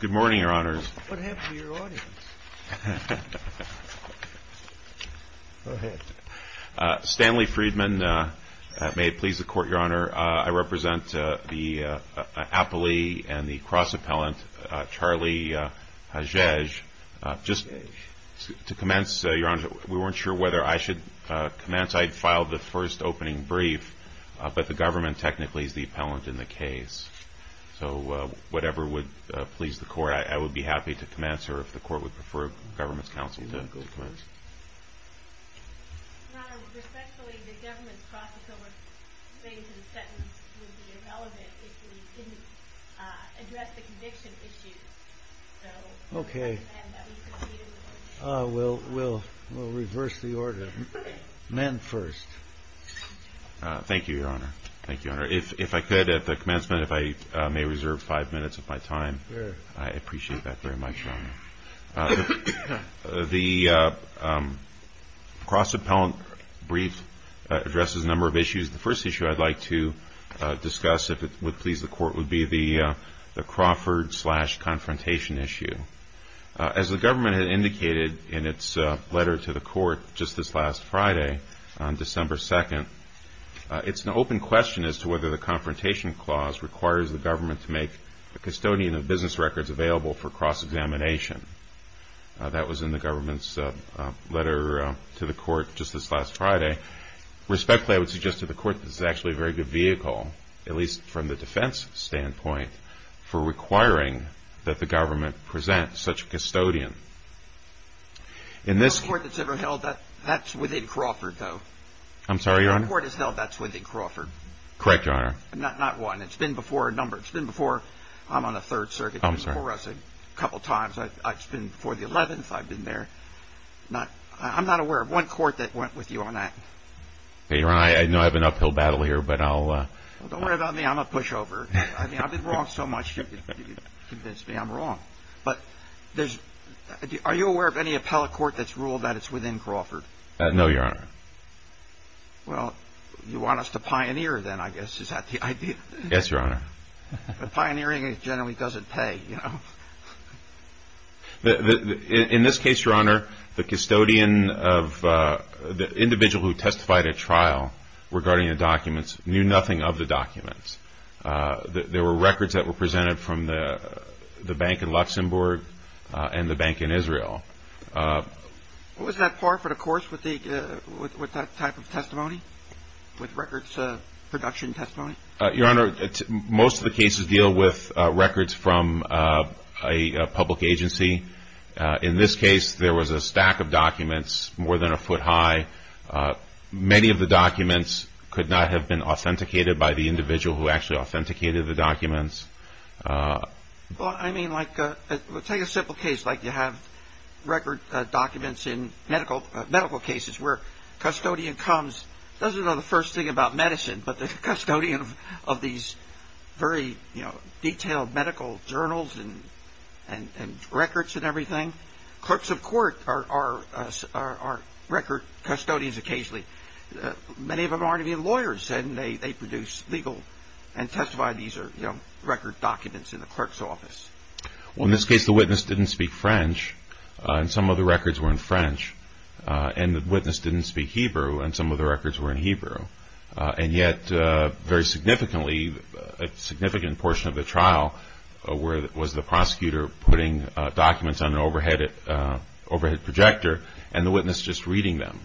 Good morning, Your Honors. Stanley Friedman. May it please the Court, Your Honor. I represent the appellee and the cross-appellant, Charlie Hagege. Just to commence, Your Honor, we weren't sure whether I should commence. I'd filed the first opening brief, but the government technically is the appellant in the case. So whatever would please the Court, I would be happy to commence, or if the Court would prefer the government's counsel to commence. Your Honor, respectfully, the government's cross-appellant claim to the sentence would be irrelevant if we didn't address the conviction issue. So I recommend that we proceed in the order. The cross-appellant brief addresses a number of issues. The first issue I'd like to discuss, if it would please the Court, would be the Crawford-slash-confrontation issue. As the letter to the Court just this last Friday, on December 2nd, it's an open question as to whether the Confrontation Clause requires the government to make a custodian of business records available for cross-examination. That was in the government's letter to the Court just this last Friday. Respectfully, I would suggest to the Court that this is actually a very good vehicle, at least from the defense standpoint, for requiring that the government present such a custodian. Your Honor, I know I have an uphill battle here, but I'll... Are you aware of any appellate court that's ruled that it's within Crawford? No, Your Honor. Well, you want us to pioneer, then, I guess. Is that the idea? Yes, Your Honor. But pioneering generally doesn't pay, you know? In this case, Your Honor, the custodian of... the individual who testified at trial regarding the documents knew nothing of the documents. There were records that were presented from the bank in Luxembourg and the bank in Israel. Was that par for the course with that type of testimony, with records production testimony? Your Honor, most of the cases deal with records from a public agency. In this case, there was a stack of documents more than a foot high. Many of the documents could not have been authenticated by the individual who actually authenticated the documents. Well, I mean, like, take a simple case like you have record documents in medical cases where custodian comes, doesn't know the first thing about medicine, but the custodian of these very, you know, detailed medical journals and records and everything. Clerks of court are record custodians occasionally. Many of them aren't even lawyers, and they produce legal and testify. These are, you know, record documents in the clerk's office. Well, in this case, the witness didn't speak French, and some of the records were in French. And the witness didn't speak Hebrew, and some of the records were in Hebrew. And yet, very significantly, a significant portion of the trial was the prosecutor putting documents on an overhead projector and the witness just reading them.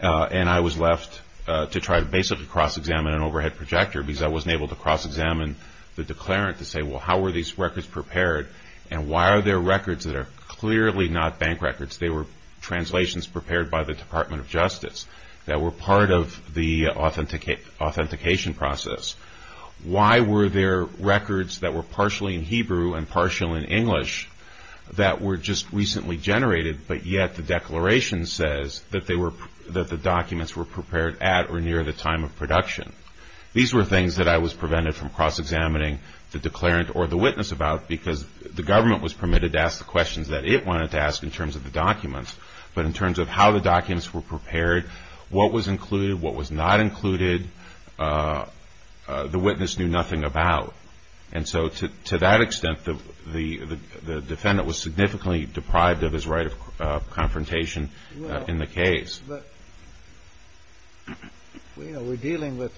And I was left to try to basically cross-examine an overhead projector because I wasn't able to cross-examine the declarant to say, well, how were these records prepared, and why are there records that are clearly not bank records? They were translations prepared by the Department of Justice that were part of the authentication process. Why were there records that were partially in Hebrew and partially in English that were just recently generated, but yet the declaration says that they were, that the documents were prepared at or near the time of production? These were things that I was prevented from cross-examining the declarant or the witness about because the government was permitted to ask the questions that it wanted to ask in terms of the documents, but in terms of how the documents were prepared, what was the witness knew nothing about. And so, to that extent, the defendant was significantly deprived of his right of confrontation in the case. But, you know, we're dealing with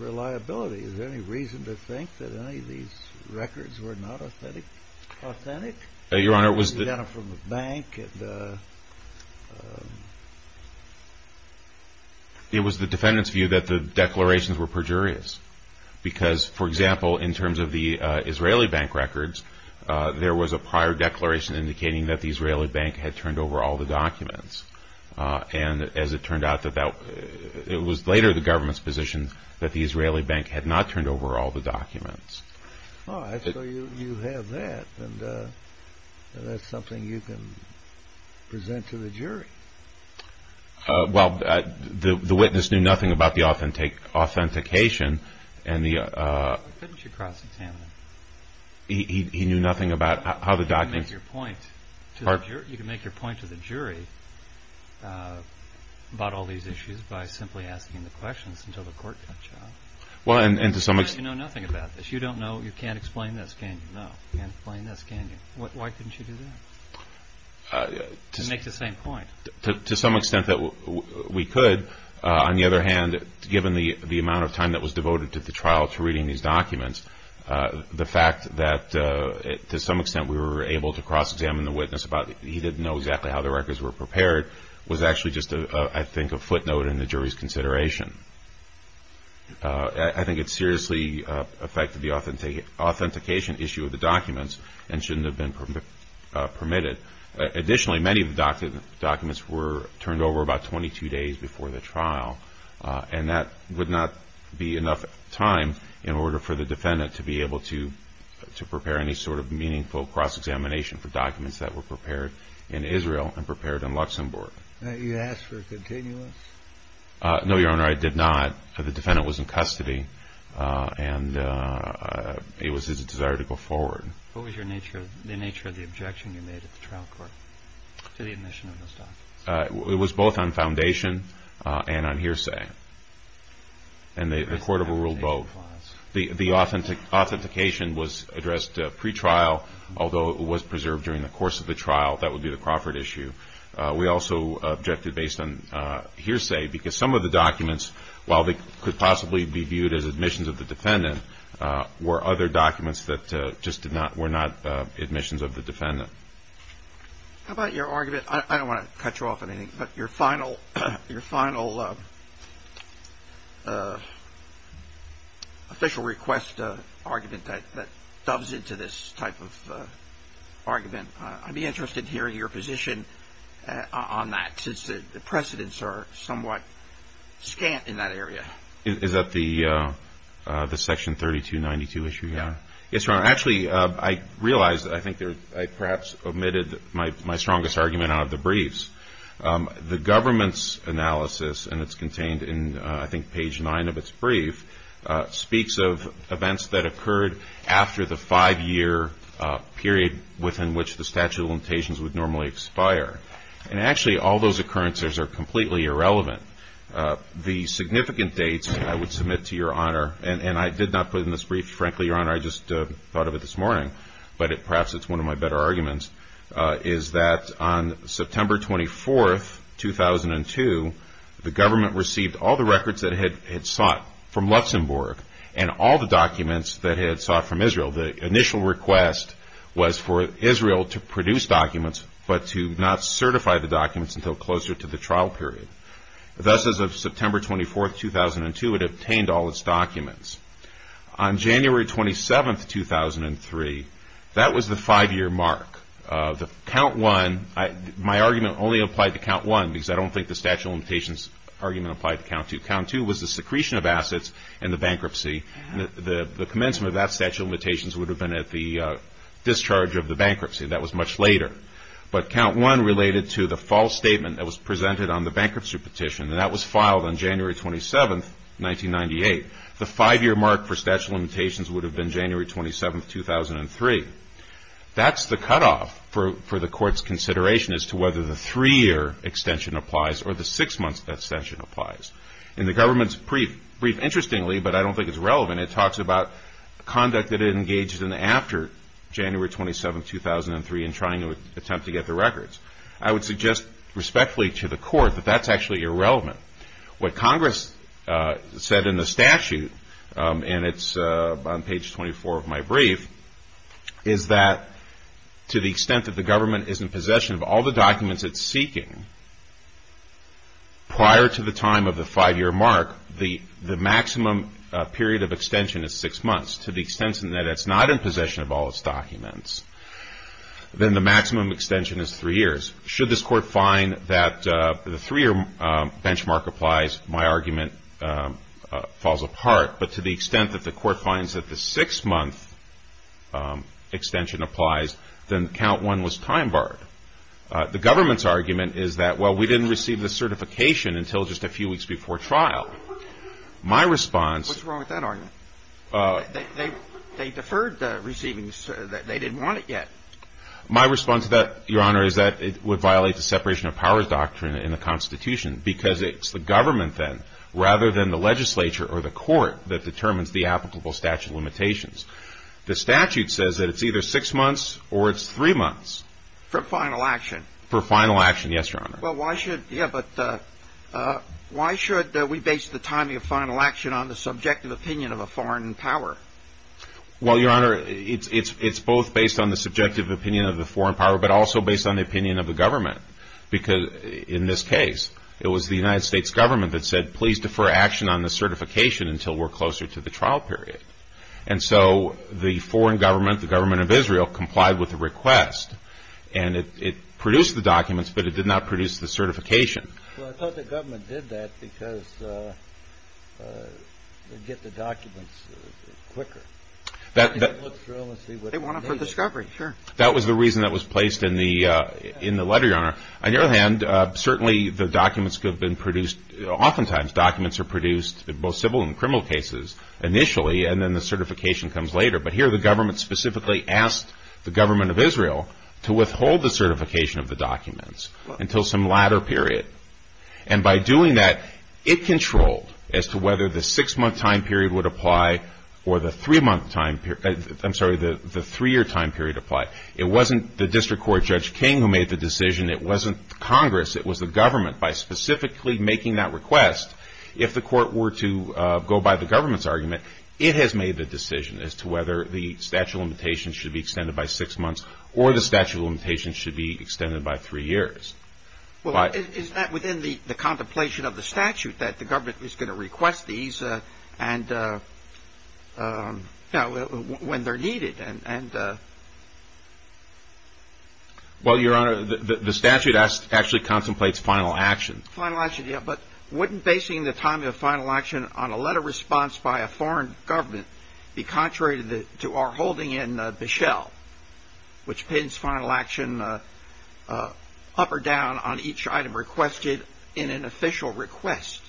reliability. Is there any reason to think that any of these records were not authentic? Your Honor, it was the... You got them from the bank and the... It was the defendant's view that the declarations were perjurious. Because, for example, in terms of the Israeli bank records, there was a prior declaration indicating that the Israeli bank had turned over all the documents. And as it turned out, it was later the government's position that the Israeli bank had not turned over all the documents. Oh, so you have that, and that's something you can present to the jury. Well, the witness knew nothing about the authentication and the... Couldn't you cross-examine them? He knew nothing about how the documents... You can make your point to the jury about all these issues by simply asking the questions until the court cuts you off. Well, and to some extent... You know nothing about this. You don't know. You can't explain this, can you? No. You can't explain this, can you? Why couldn't you do that? To make the same point. To some extent that we could. On the other hand, given the amount of time that was devoted to the trial, to reading these documents, the fact that to some extent we were able to cross-examine the witness about he didn't know exactly how the records were prepared was actually just, I think, a footnote in the jury's consideration. I think it seriously affected the authentication issue of the documents and shouldn't have been permitted. Additionally, many of the documents were turned over about 22 days before the trial, and that would not be enough time in order for the defendant to be able to prepare any sort of meaningful cross-examination for documents that were prepared in Israel and prepared in Luxembourg. You asked for a continuous? No, Your Honor, I did not. The defendant was in custody, and it was his desire to go forward. What was the nature of the objection you made at the trial court to the admission of those documents? It was both on foundation and on hearsay, and the court overruled both. The authentication was addressed pre-trial, although it was preserved during the course of the trial. That would be the Crawford issue. We also objected based on hearsay because some of the documents, while they could possibly be viewed as admissions of the defendant, were other documents that just were not admissions of the defendant. How about your argument? I don't want to cut you off on anything, but your final official request argument that doves into this type of argument. I'd be interested to hear your position on that, since the precedents are somewhat scant in that area. Is that the Section 3292 issue, Your Honor? Yes, Your Honor. Actually, I realize that I think I perhaps omitted my strongest argument out of the briefs. The government's analysis, and it's contained in, I think, page 9 of its brief, speaks of events that occurred after the five-year period within which the statute of limitations would normally expire. And actually, all those occurrences are completely irrelevant. The significant dates, I would submit to Your Honor, and I did not put in this brief. Frankly, Your Honor, I just thought of it this morning, but perhaps it's one of my better arguments, is that on September 24, 2002, the government received all the records that it had sought from Luxembourg and all the documents that it had sought from Israel. The initial request was for Israel to produce documents, but to not certify the documents until closer to the trial period. Thus, as of September 24, 2002, it obtained all its documents. On January 27, 2003, that was the five-year mark. The count one, my argument only applied to count one, because I don't think the statute of limitations argument applied to count two. Count two was the secretion of assets and the bankruptcy. The commencement of that statute of limitations would have been at the discharge of the bankruptcy. That was much later. But count one related to the false statement that was made, the five-year mark for statute of limitations would have been January 27, 2003. That's the cutoff for the Court's consideration as to whether the three-year extension applies or the six-month extension applies. In the government's brief, interestingly, but I don't think it's relevant, it talks about conduct that it engaged in after January 27, 2003 in trying to attempt to get the records. I would suggest respectfully to the Court that that's actually irrelevant. What Congress said in the statute, and it's on page 24 of my brief, is that to the extent that the government is in possession of all the documents it's seeking, prior to the time of the five-year mark, the maximum period of extension is six months. To the extent that it's not in possession of all its documents, then the maximum extension is three years. Should this Court find that the three-year benchmark applies, my argument falls apart. But to the extent that the Court finds that the six-month extension applies, then count one was time barred. The government's argument is that, well, we didn't receive the certification until just a few weeks before trial. My response — What's wrong with that argument? They deferred the receivings. They didn't want it yet. My response to that, Your Honor, is that it would violate the separation of powers doctrine in the Constitution, because it's the government then, rather than the legislature or the Court, that determines the applicable statute limitations. The statute says that it's either six months or it's three months. For final action? For final action, yes, Your Honor. Well, why should — yeah, but why should we base the timing of final action on the subjective opinion of a foreign in power? Well, Your Honor, it's both based on the subjective opinion of the foreign power, but also based on the opinion of the government. Because in this case, it was the United States government that said, please defer action on the certification until we're closer to the trial period. And so the foreign government, the government of Israel, complied with the request, and it produced the documents, but it did not produce the certification. Well, I thought the government did that because it would get the documents quicker. They want them for discovery, sure. That was the reason that was placed in the letter, Your Honor. On the other hand, certainly the documents could have been produced — oftentimes documents are produced in both civil and criminal cases initially, and then the certification comes later. But here the government specifically asked the government of Israel to withhold the certification of the documents until some latter period. And by doing that, it controlled as to whether the six-month time period would apply or the three-month time — I'm sorry, the three-year time period apply. It wasn't the district court Judge King who made the decision. It wasn't Congress. It was the government. By specifically making that request, if the court were to go by the government's argument, it has made the decision as to whether the statute of limitations should be extended by six months or the statute of limitations should be extended by three years. Well, is that within the contemplation of the statute that the government is going to request these when they're needed? Well, Your Honor, the statute actually contemplates final action. Final action, yeah. But wouldn't basing the time of final action on a letter response by a foreign government be contrary to our holding in Bishel, which pins final action up or down on each item requested in an official request?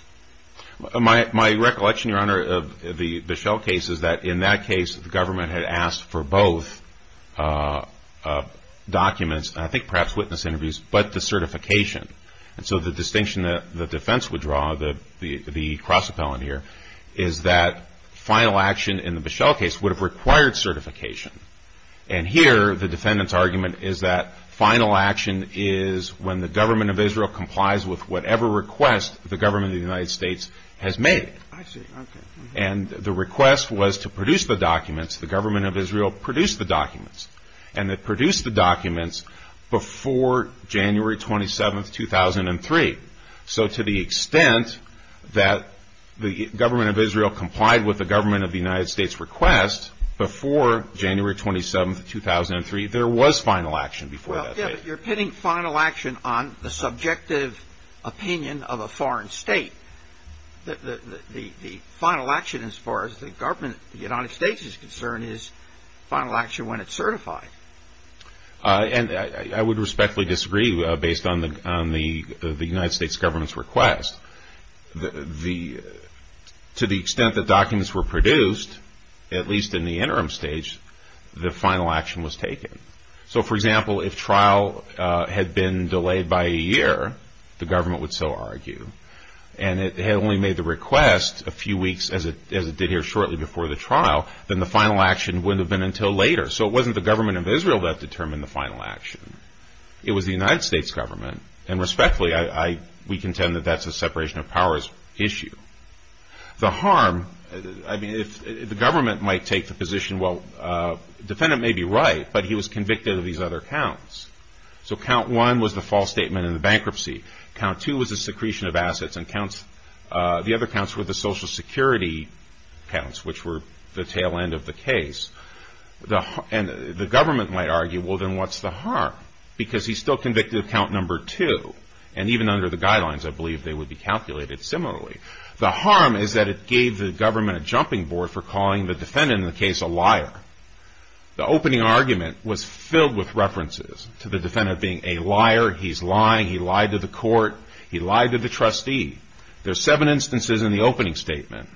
My recollection, Your Honor, of the Bishel case is that in that case the government had asked for both documents, and I think perhaps witness interviews, but the certification. And so the distinction that the defense would draw, the cross-appellant here, is that final action in the Bishel case would have required certification. And here the defendant's argument is that final action is when the government of Israel complies with whatever request the government of the United States has made. I see. Okay. And the request was to produce the documents. The government of Israel produced the documents. And it produced the documents before January 27, 2003. So to the extent that the government of Israel complied with the government of the United States' request before January 27, 2003, there was final action before that date. Well, yeah, but you're pinning final action on the subjective opinion of a foreign state. The final action, as far as the government of the United States is concerned, is final before July 25. And I would respectfully disagree based on the United States government's request. To the extent that documents were produced, at least in the interim stage, the final action was taken. So, for example, if trial had been delayed by a year, the government would so argue, and it had only made the request a few weeks, as it did here shortly before the government of Israel that determined the final action. It was the United States government. And respectfully, we contend that that's a separation of powers issue. The harm, I mean, if the government might take the position, well, the defendant may be right, but he was convicted of these other counts. So count one was the false statement in the bankruptcy. Count two was the secretion of assets. And the other counts were the Social Security counts, which were the tail end of the case. And the government might argue, well, then what's the harm? Because he's still convicted of count number two. And even under the guidelines, I believe they would be calculated similarly. The harm is that it gave the government a jumping board for calling the defendant in the case a liar. The opening argument was filled with references to the defendant being a liar. He's lying. He lied to the court. He lied to the trustee. There's seven instances in the opening statement.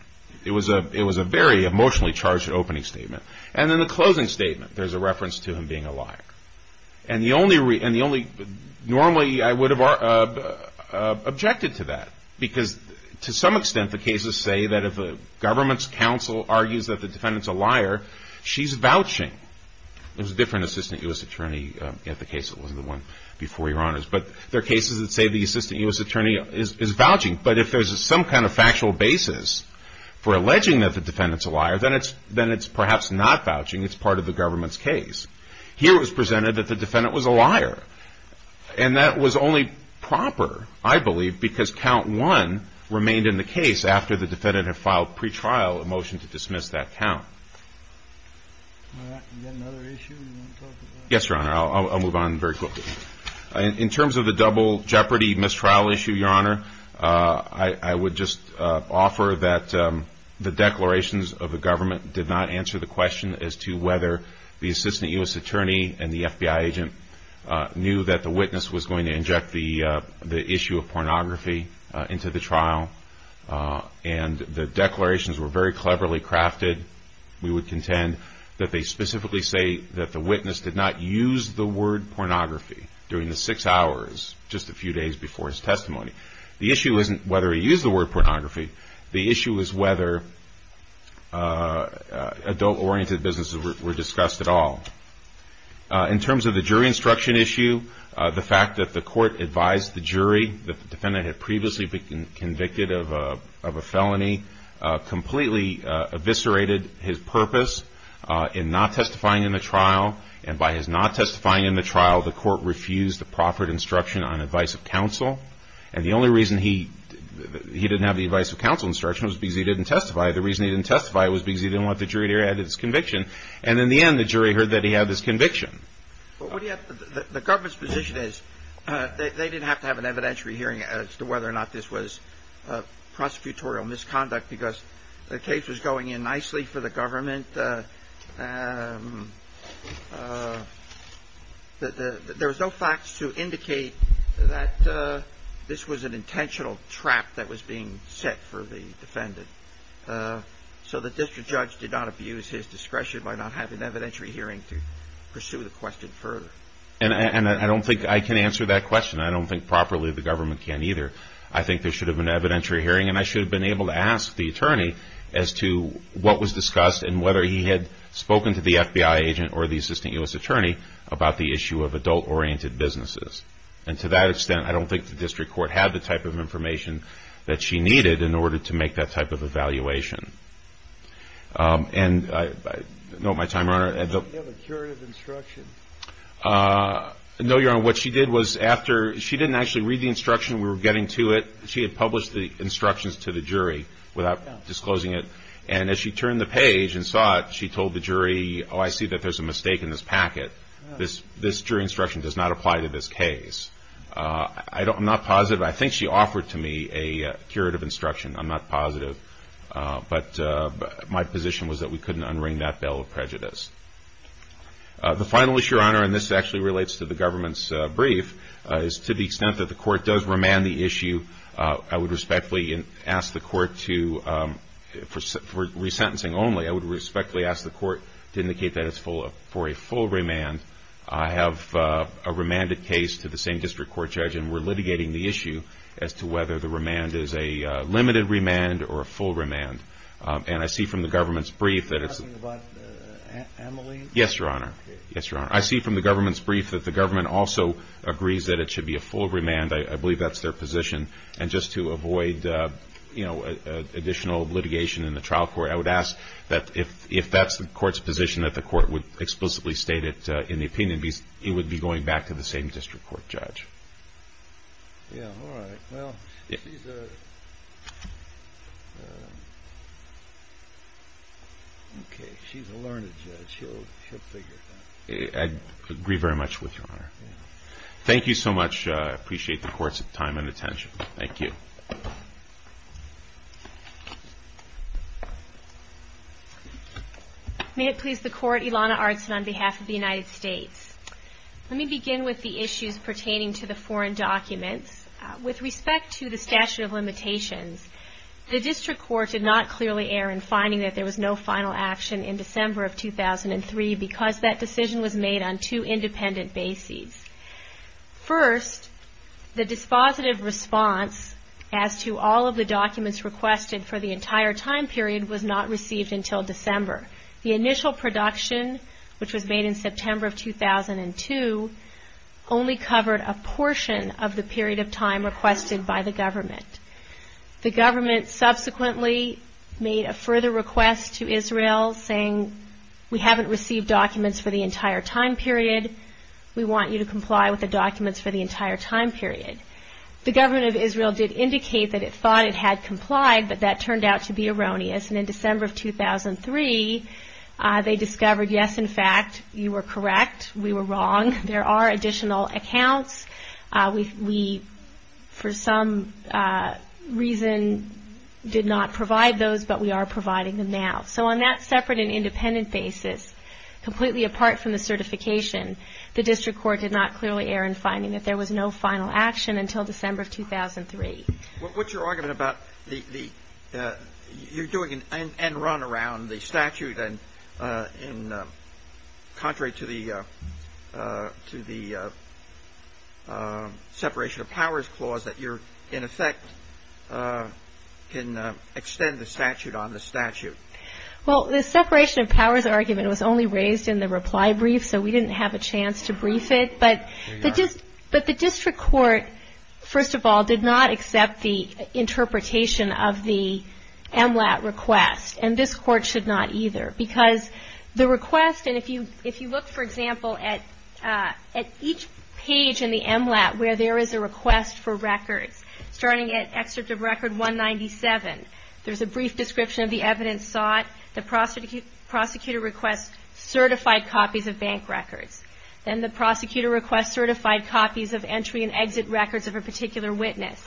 It was a very emotionally charged opening statement. And in the closing statement, there's a reference to him being a liar. Normally, I would have objected to that. Because to some extent, the cases say that if the government's counsel argues that the defendant's a liar, she's vouching. It was a different assistant U.S. attorney at the case. It wasn't the one before Your Honors. But there are cases that say the assistant U.S. attorney is vouching. But if there's some kind of factual basis for alleging that the defendant's a liar, then it's perhaps not vouching. It's part of the government's case. Here it was presented that the defendant was a liar. And that was only proper, I believe, because count one remained in the case after the defendant had filed pretrial a motion to dismiss that count. All right. Is that another issue you want to talk about? Yes, Your Honor. I'll move on very quickly. In terms of the double jeopardy mistrial issue, Your Honor, I would just offer that the declarations of the government did not answer the question as to whether the assistant U.S. attorney and the FBI agent knew that the witness was going to inject the issue of pornography into the trial. And the declarations were very cleverly crafted. We would contend that they specifically say that the witness did not use the word pornography during the six hours just a few days before his testimony. The issue isn't whether he used the word pornography. The issue is whether adult-oriented businesses were discussed at all. In terms of the jury instruction issue, the fact that the court advised the jury that the defendant had previously been convicted of a felony completely eviscerated his purpose in not testifying in the trial. And by his not testifying in the trial, the court refused the proffered instruction on advice of counsel. And the only reason he didn't have the advice of counsel instruction was because he didn't testify. The reason he didn't testify was because he didn't want the jury to add his conviction. And in the end, the jury heard that he had his conviction. But the government's position is they didn't have to have an evidentiary hearing as to whether or not this was prosecutorial misconduct because the case was going in nicely for the defendant. There was no facts to indicate that this was an intentional trap that was being set for the defendant. So the district judge did not abuse his discretion by not having an evidentiary hearing to pursue the question further. And I don't think I can answer that question. I don't think properly the government can either. I think there should have been an evidentiary hearing, and I should have been had spoken to the FBI agent or the assistant U.S. attorney about the issue of adult-oriented businesses. And to that extent, I don't think the district court had the type of information that she needed in order to make that type of evaluation. And I note my time, Your Honor. Did she have a curative instruction? No, Your Honor. What she did was after she didn't actually read the instruction we were getting to it, she had published the instructions to the jury without disclosing it. And as she turned the page and saw it, she told the jury, oh, I see that there's a mistake in this packet. This jury instruction does not apply to this case. I'm not positive. I think she offered to me a curative instruction. I'm not positive. But my position was that we couldn't unring that bell of prejudice. The final issue, Your Honor, and this actually relates to the government's brief, is to the extent that the court does remand the issue, I would respectfully ask the court to, for sentencing only, I would respectfully ask the court to indicate that it's for a full remand. I have a remanded case to the same district court judge, and we're litigating the issue as to whether the remand is a limited remand or a full remand. And I see from the government's brief that it's... Are you talking about Emily? Yes, Your Honor. Yes, Your Honor. I see from the government's brief that the government also agrees that it should be a full remand. I believe that's their position. And just to avoid additional litigation in the trial court, I would ask that if that's the court's position that the court would explicitly state it in the opinion, it would be going back to the same district court judge. Yeah, all right. Well, she's a learned judge. She'll figure it out. Thank you so much. I appreciate the court's time and attention. Thank you. May it please the court, Ilana Ardson on behalf of the United States. Let me begin with the issues pertaining to the foreign documents. With respect to the statute of limitations, the district court did not clearly err in finding that there was no final action in First, the dispositive response as to all of the documents requested for the entire time period was not received until December. The initial production, which was made in September of 2002, only covered a portion of the period of time requested by the government. The government subsequently made a further request to Israel saying, we haven't received documents for the entire time period. We want you to comply with the documents for the entire time period. The government of Israel did indicate that it thought it had complied, but that turned out to be erroneous. And in December of 2003, they discovered, yes, in fact, you were correct. We were wrong. There are additional accounts. We, for some reason, did not provide those, but we are providing them now. So on that separate and independent basis, completely apart from the certification, the district court did not clearly err in finding that there was no final action until December of 2003. What's your argument about the, you're doing an end run around the statute and contrary to the separation of powers clause that you're, in effect, can extend the statute on the statute? Well, the separation of powers argument was only raised in the reply brief, so we didn't have a chance to brief it. But the district court, first of all, did not accept the interpretation of the MLAT request, and this court should not either. Because the request, and if you look, for example, at each page in the MLAT where there is a request for records, starting at excerpt of record 197, there's a brief description of the evidence sought, the prosecutor requests certified copies of bank records, then the prosecutor requests certified copies of entry and exit records of a particular witness.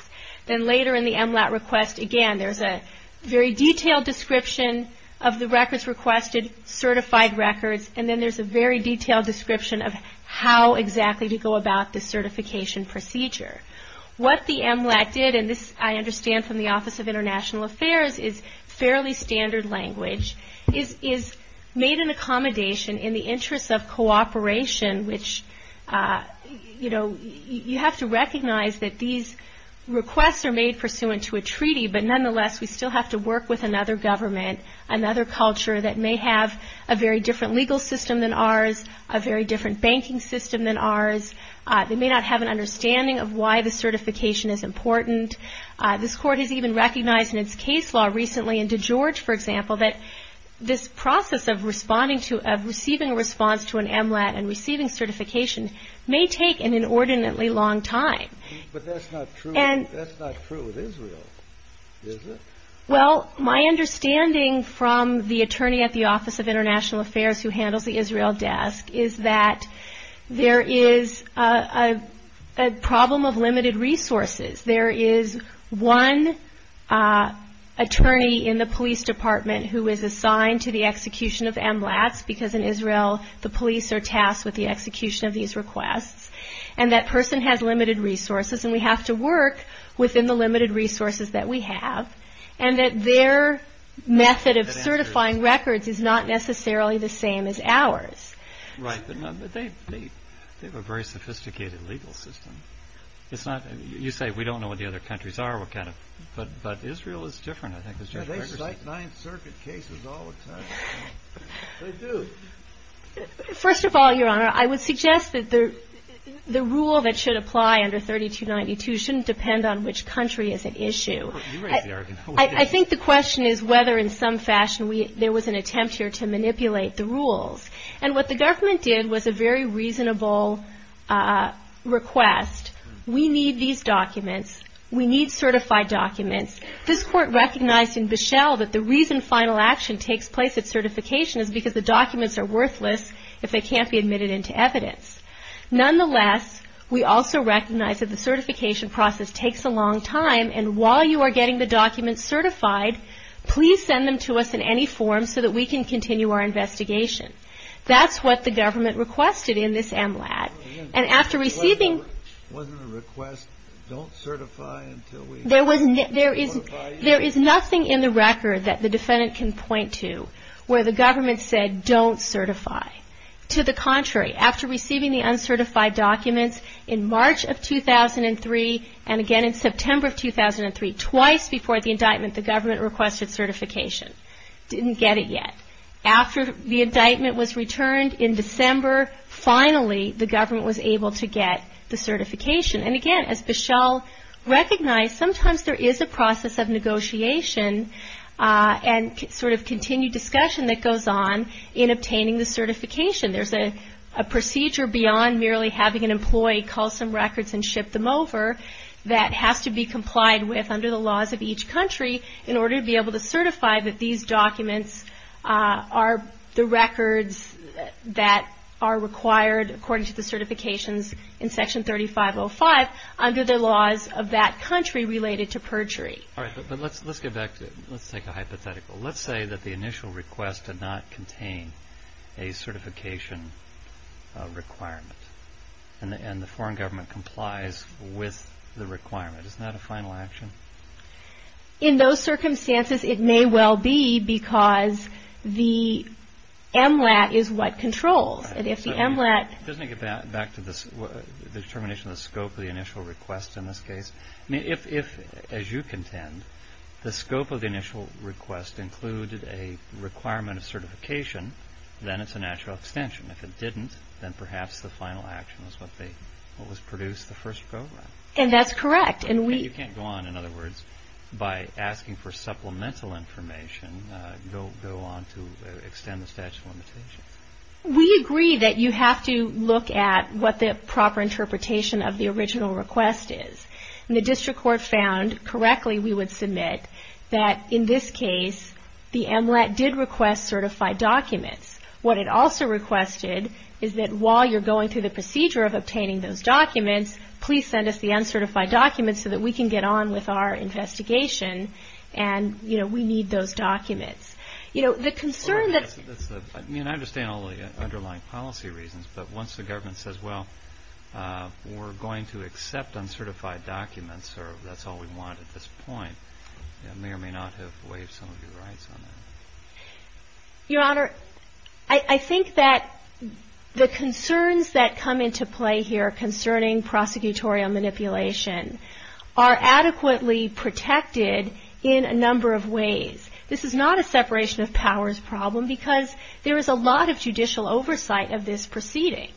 Then later in the MLAT request, again, there's a very detailed description of the records requested, certified records, and then there's a very detailed description of how exactly to go about the certification procedure. What the MLAT did, and this I understand from the Office of International Affairs is fairly standard language, is made an accommodation in the interest of cooperation, which, you know, you have to recognize that these requests are made pursuant to a treaty, but nonetheless we still have to work with another government, another culture that may have a very different legal system than ours, a very different banking system than ours. They may not have an understanding of why the certification is important. This court has even recognized in its case law recently in DeGeorge, for example, that this process of receiving a response to an MLAT and receiving certification may take an inordinately long time. But that's not true with Israel, is it? Well, my understanding from the attorney at the Office of International Affairs who handles the Israel desk is that there is a problem of limited resources. There is one attorney in the police department who is assigned to the execution of MLATs because in Israel the police are tasked with the execution of these requests, and that person has limited resources and we have to work within the limited resources that we have, and that their method of certifying records is not necessarily the same as ours. Right, but they have a very sophisticated legal system. You say we don't know what the other countries are, but Israel is different, I think. They cite Ninth Circuit cases all the time. They do. First of all, Your Honor, I would suggest that the rule that should apply under 3292 shouldn't depend on which country is at issue. You raise the argument. I think the question is whether in some fashion there was an attempt here to manipulate the rules, and what the government did was a very reasonable request. We need these documents. We need certified documents. This Court recognized in Bishel that the reason final action takes place at certification is because the documents are worthless if they can't be admitted into evidence. Nonetheless, we also recognize that the certification process takes a long time, and while you are getting the documents certified, please send them to us in any form so that we can continue our investigation. That's what the government requested in this MLAT. It wasn't a request, don't certify until we certify you? There is nothing in the record that the defendant can point to where the government said don't certify. To the contrary, after receiving the uncertified documents in March of 2003 and again in September of 2003, twice before the indictment, the government requested certification. Didn't get it yet. After the indictment was returned in December, finally the government was able to get the certification. And again, as Bishel recognized, sometimes there is a process of negotiation and sort of continued discussion that goes on in obtaining the certification. There is a procedure beyond merely having an employee call some records and ship them over that has to be complied with under the laws of each country in order to be able to certify that these documents are the records that are required according to the certifications in Section 3505 under the laws of that country related to perjury. All right. But let's get back to it. Let's take a hypothetical. Let's say that the initial request did not contain a certification requirement and the foreign government complies with the requirement. Isn't that a final action? In those circumstances, it may well be because the MLAT is what controls. Doesn't it get back to the determination of the scope of the initial request in this case? If, as you contend, the scope of the initial request included a requirement of certification, then it's a natural extension. If it didn't, then perhaps the final action is what was produced the first program. And that's correct. And you can't go on, in other words, by asking for supplemental information, go on to extend the statute of limitations. We agree that you have to look at what the proper interpretation of the original request is. And the district court found, correctly, we would submit, that in this case, the MLAT did request certified documents. What it also requested is that while you're going through the procedure of obtaining those documents, please send us the uncertified documents so that we can get on with our investigation and, you know, we need those documents. You know, the concern that's... I mean, I understand all the underlying policy reasons, but once the government says, well, we're going to accept uncertified documents or that's all we want at this point, it may or may not have waived some of your rights on that. Your Honor, I think that the concerns that come into play here concerning prosecutorial manipulation are adequately protected in a number of ways. This is not a separation of powers problem because there is a lot of judicial oversight of this proceeding.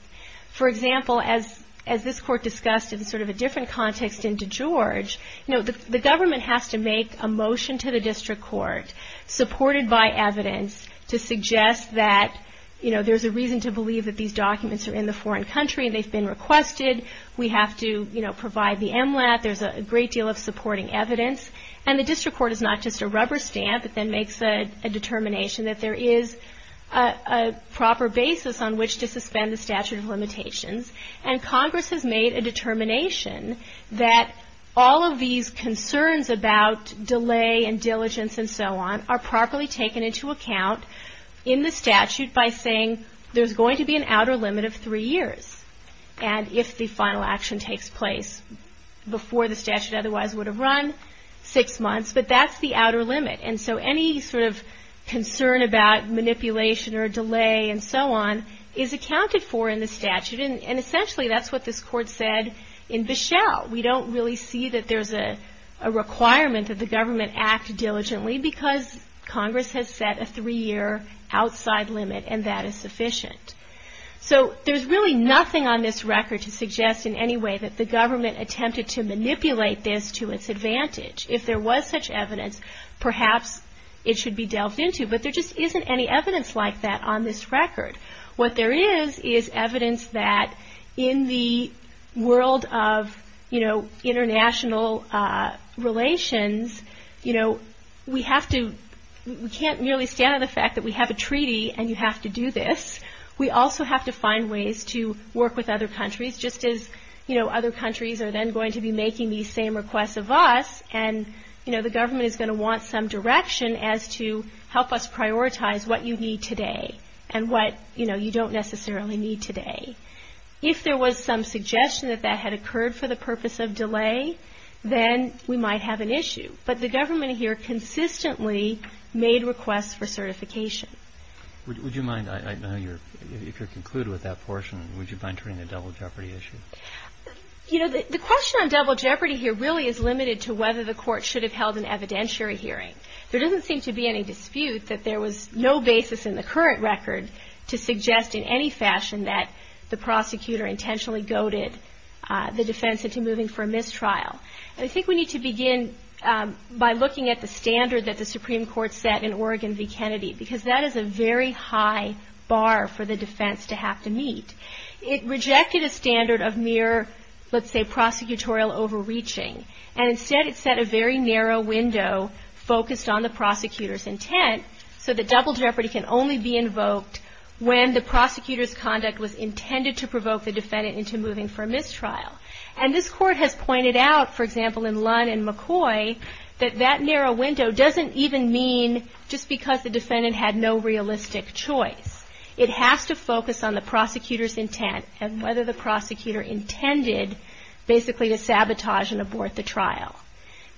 For example, as this court discussed in sort of a different context in DeGeorge, you know, the government has to make a motion to the district court, supported by evidence, to suggest that, you know, there's a reason to believe that these documents are in the foreign country and they've been requested. We have to, you know, provide the MLAT. There's a great deal of supporting evidence. And the district court is not just a rubber stamp. It then makes a determination that there is a proper basis on which to suspend the statute of limitations. And Congress has made a determination that all of these concerns about delay and diligence and so on are properly taken into account in the statute by saying there's going to be an outer limit of three years. And if the final action takes place before the statute otherwise would have run, six months. But that's the outer limit. And so any sort of concern about manipulation or delay and so on is accounted for in the statute. And essentially that's what this court said in Bichelle. We don't really see that there's a requirement that the government act diligently because Congress has set a three-year outside limit and that is sufficient. So there's really nothing on this record to suggest in any way that the government attempted to manipulate this to its advantage. If there was such evidence, perhaps it should be delved into. But there just isn't any evidence like that on this record. What there is is evidence that in the world of, you know, international relations, you know, we have to, we can't merely stand on the fact that we have a treaty and you have to do this. We also have to find ways to work with other countries just as, you know, other countries are then going to be making these same requests of us and, you know, the government is going to want some direction as to help us prioritize what you need today and what, you know, you don't necessarily need today. If there was some suggestion that that had occurred for the purpose of delay, then we might have an issue. But the government here consistently made requests for certification. Would you mind, I know you're, if you're concluded with that portion, would you mind turning to double jeopardy issues? You know, the question on double jeopardy here really is limited to whether the court should have held an evidentiary hearing. There doesn't seem to be any dispute that there was no basis in the current record to suggest in any fashion that the prosecutor intentionally goaded the defense into moving for a mistrial. And I think we need to begin by looking at the standard that the Supreme Court set in Oregon v. Kennedy because that is a very high bar for the defense to have to meet. It rejected a standard of mere, let's say, prosecutorial overreaching, and instead it set a very narrow window focused on the prosecutor's intent so that double jeopardy can only be invoked when the prosecutor's conduct was intended to provoke the defendant into moving for a mistrial. And this court has pointed out, for example, in Lunn and McCoy, that that narrow window doesn't even mean just because the defendant had no realistic choice. It has to focus on the prosecutor's intent and whether the prosecutor intended basically to sabotage and abort the trial.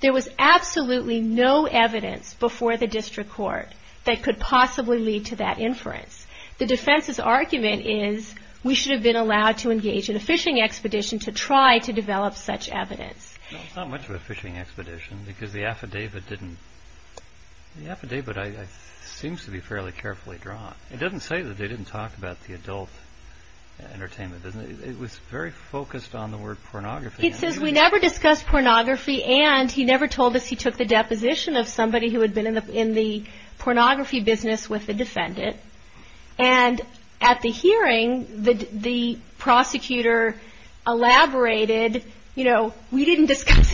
There was absolutely no evidence before the district court that could possibly lead to that inference. The defense's argument is we should have been allowed to engage in a fishing expedition to try to develop such evidence. Not much of a fishing expedition because the affidavit didn't... The affidavit seems to be fairly carefully drawn. It doesn't say that they didn't talk about the adult entertainment business. It was very focused on the word pornography. It says we never discussed pornography and he never told us he took the deposition of somebody who had been in the pornography business with the defendant. And at the hearing, the prosecutor elaborated, you know, we didn't discuss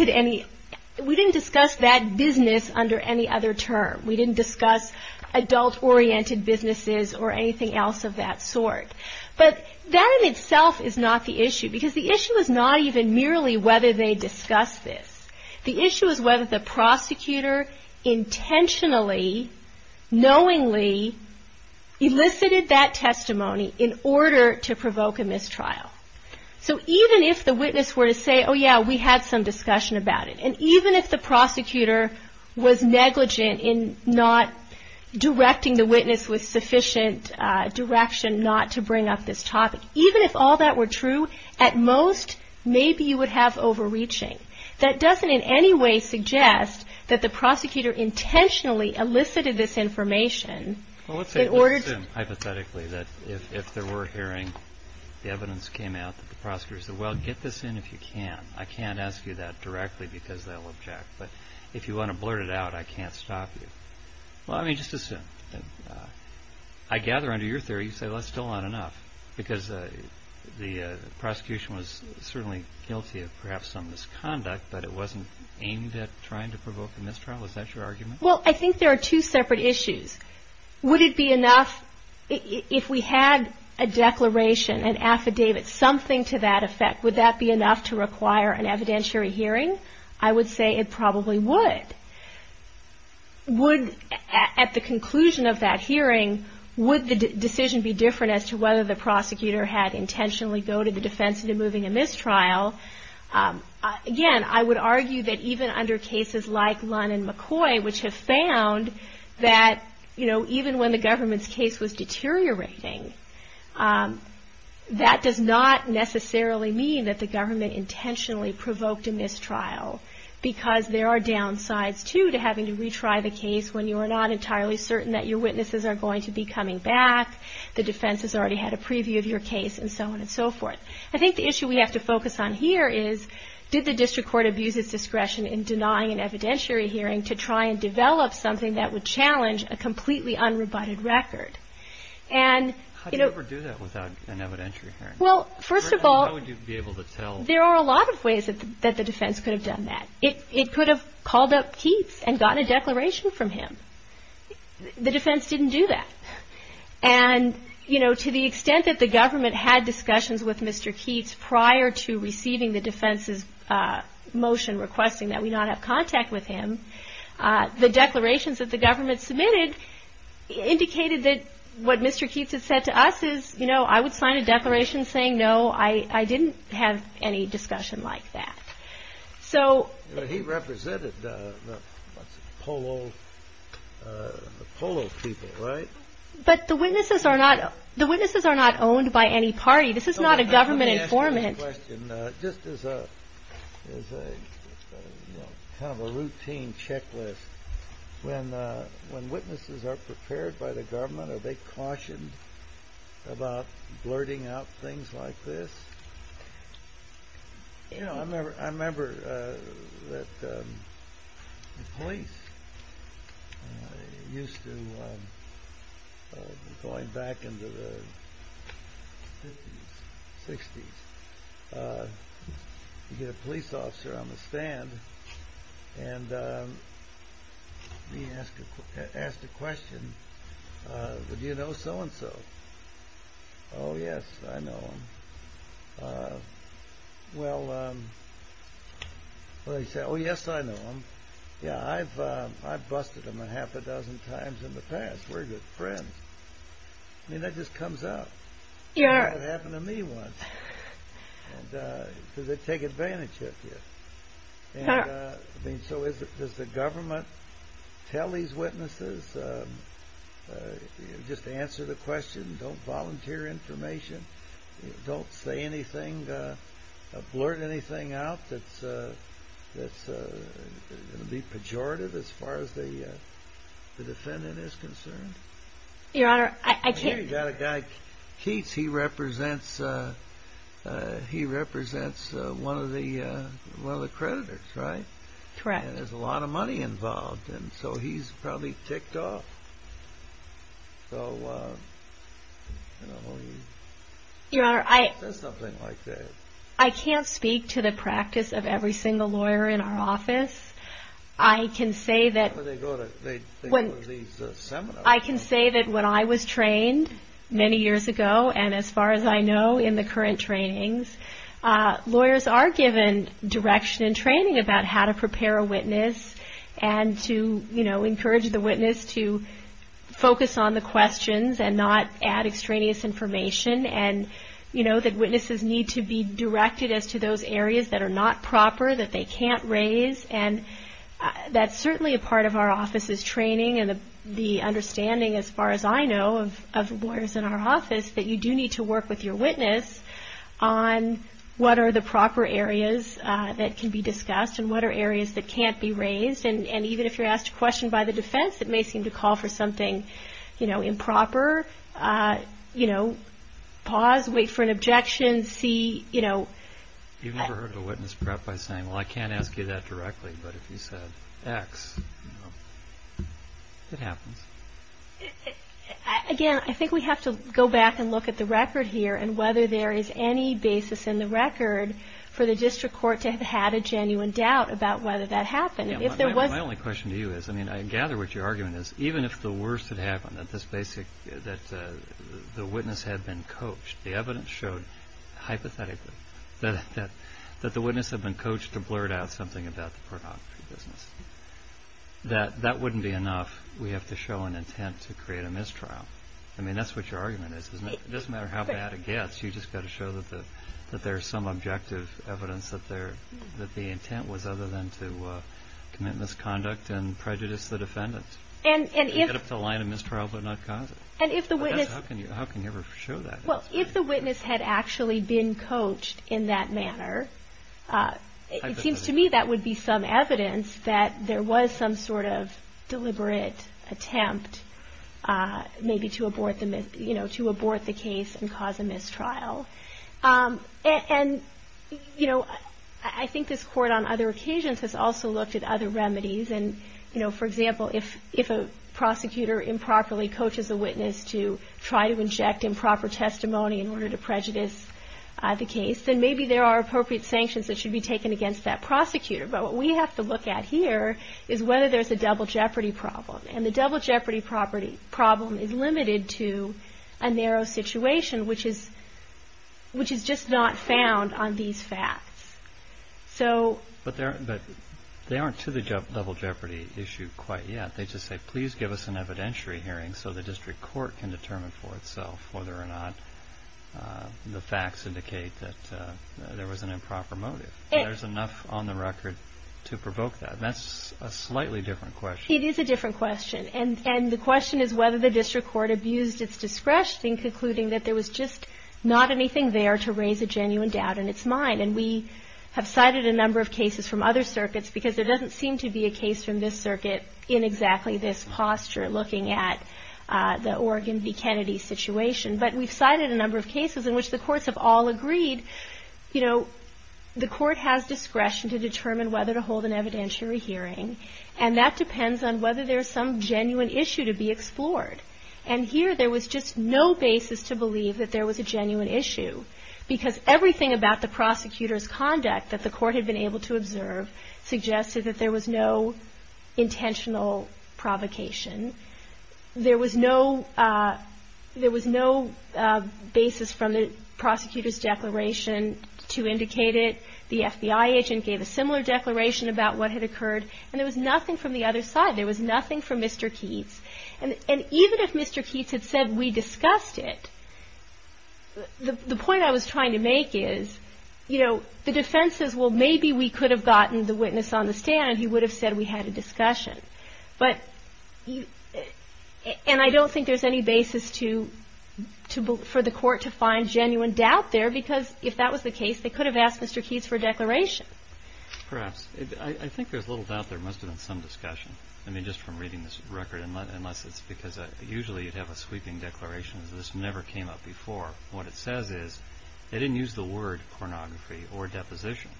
that business under any other term. We didn't discuss adult-oriented businesses or anything else of that sort. But that in itself is not the issue because the issue is not even merely whether they discussed this. The issue is whether the prosecutor intentionally, knowingly, elicited that testimony in order to provoke a mistrial. So even if the witness were to say, oh, yeah, we had some discussion about it, and even if the prosecutor was negligent in not directing the witness with sufficient direction not to break the law, not to bring up this topic, even if all that were true, at most maybe you would have overreaching. That doesn't in any way suggest that the prosecutor intentionally elicited this information in order to... Well, let's assume hypothetically that if there were a hearing, the evidence came out that the prosecutor said, well, get this in if you can. I can't ask you that directly because they'll object. But if you want to blurt it out, I can't stop you. Well, I mean, just assume. I gather under your theory you say, well, that's still not enough because the prosecution was certainly guilty of perhaps some misconduct, but it wasn't aimed at trying to provoke a mistrial. Is that your argument? Well, I think there are two separate issues. Would it be enough if we had a declaration, an affidavit, something to that effect, would that be enough to require an evidentiary hearing? I would say it probably would. And at the conclusion of that hearing, would the decision be different as to whether the prosecutor had intentionally go to the defense into moving a mistrial? Again, I would argue that even under cases like Lund and McCoy, which have found that even when the government's case was deteriorating, that does not necessarily mean that the government intentionally provoked a mistrial because there are downsides, too, to having to retry the case when you are not entirely certain that your witnesses are going to be coming back, the defense has already had a preview of your case, and so on and so forth. I think the issue we have to focus on here is did the district court abuse its discretion in denying an evidentiary hearing to try and develop something that would challenge a completely unrebutted record? How do you ever do that without an evidentiary hearing? Well, first of all, there are a lot of ways that the defense could have done that. It could have called up Keats and gotten a declaration from him. The defense didn't do that. And to the extent that the government had discussions with Mr. Keats prior to receiving the defense's motion requesting that we not have contact with him, the declarations that the government submitted indicated that what Mr. Keats had said to us is, you know, I would sign a declaration saying no, I didn't have any discussion like that. He represented the Polo people, right? But the witnesses are not owned by any party. This is not a government informant. Just as a kind of a routine checklist, when witnesses are prepared by the government, are they cautioned about blurting out things like this? You know, I remember that the police used to, going back into the 50s, 60s, you'd get a police officer on the stand and he asked a question, would you know so-and-so? Oh, yes, I know him. I've busted him a half a dozen times in the past. We're good friends. I mean, that just comes up. It happened to me once. Does it take advantage of you? So does the government tell these witnesses, just answer the question, don't volunteer information, don't say anything, blurt anything out that's going to be pejorative as far as the defendant is concerned? Your Honor, I can't... You've got a guy, Keats. He represents one of the creditors, right? Correct. There's a lot of money involved, so he's probably ticked off. Your Honor, I can't speak to the practice of every single lawyer in our office. I can say that... I can say that when I was trained many years ago, and as far as I know in the current trainings, lawyers are given direction and training about how to prepare a witness and to encourage the witness to focus on the questions and not add extraneous information and that witnesses need to be directed as to those areas that are not proper, that they can't raise. That's certainly a part of our office's training and the understanding, as far as I know, of lawyers in our office, that you do need to work with your witness on what are the proper areas that can be discussed and what are areas that can't be raised. And even if you're asked a question by the defense that may seem to call for something improper, pause, wait for an objection, see... You've never heard a witness prep by saying, well, I can't ask you that directly, but if you said X, it happens. Again, I think we have to go back and look at the record here and whether there is any basis in the record for the district court to have had a genuine doubt about whether that happened. My only question to you is, I gather what your argument is, even if the worst had happened, that the witness had been coached, the evidence showed hypothetically that the witness had been coached to blurt out something about the pornography business. That wouldn't be enough. We have to show an intent to create a mistrial. I mean, that's what your argument is. It doesn't matter how bad it gets, you've just got to show that there's some objective evidence that the intent was other than to commit misconduct and prejudice the defendants. How can you ever show that? Well, if the witness had actually been coached in that manner, it seems to me that would be some evidence that there was some sort of deliberate attempt maybe to abort the case and cause a mistrial. I think this Court on other occasions has also looked at other remedies. For example, if a prosecutor improperly coaches a witness to try to inject improper testimony in order to prejudice the case, then maybe there are appropriate sanctions that should be taken against that prosecutor. But what we have to look at here is whether there's a double jeopardy problem. And the double jeopardy problem is limited to a narrow situation, which is just not found on these facts. But they aren't to the double jeopardy issue quite yet. They just say, please give us an evidentiary hearing so the District Court can determine for itself whether or not the facts indicate that there was an improper motive. There's enough on the record to provoke that. That's a slightly different question. It is a different question, and the question is whether the District Court abused its discretion in concluding that there was just not anything there to raise a genuine doubt in its mind. And we have cited a number of cases from other circuits because there doesn't seem to be a case from this circuit in exactly this posture, looking at the Oregon v. Kennedy situation. But we've cited a number of cases in which the courts have all agreed, you know, the court has discretion to determine whether to hold an evidentiary hearing, and that depends on whether there's some genuine issue to be explored. And here there was just no basis to believe that there was a genuine issue, because everything about the prosecutor's conduct that the court had been able to observe suggested that there was no intentional provocation. There was no basis from the prosecutor's declaration to indicate it. The FBI agent gave a similar declaration about what had occurred, and there was nothing from the other side. There was nothing from Mr. Keats. And even if Mr. Keats had said we discussed it, the point I was trying to make is, you know, the defense says, well, maybe we could have gotten the witness on the stand. He would have said we had a discussion. And I don't think there's any basis for the court to find genuine doubt there, because if that was the case, they could have asked Mr. Keats for a declaration. Perhaps. I think there's a little doubt there must have been some discussion. I mean, just from reading this record, unless it's because usually you'd have a sweeping declaration. This never came up before. What it says is they didn't use the word pornography or deposition.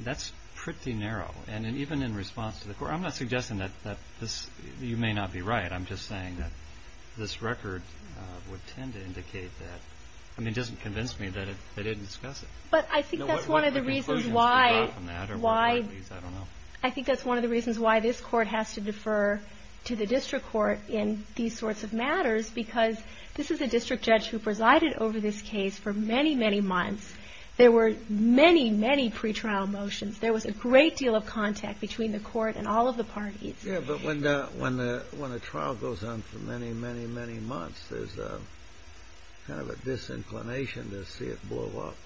That's pretty narrow. And even in response to the court, I'm not suggesting that you may not be right. I'm just saying that this record would tend to indicate that. I mean, it doesn't convince me that they didn't discuss it. I think that's one of the reasons why this court has to defer to the district court in these sorts of matters, because this is a district judge who presided over this case for many, many months. There were many, many pretrial motions. There was a great deal of contact between the court and all of the parties. Yeah, but when the trial goes on for many, many, many months, there's kind of a disinclination to see it blow up.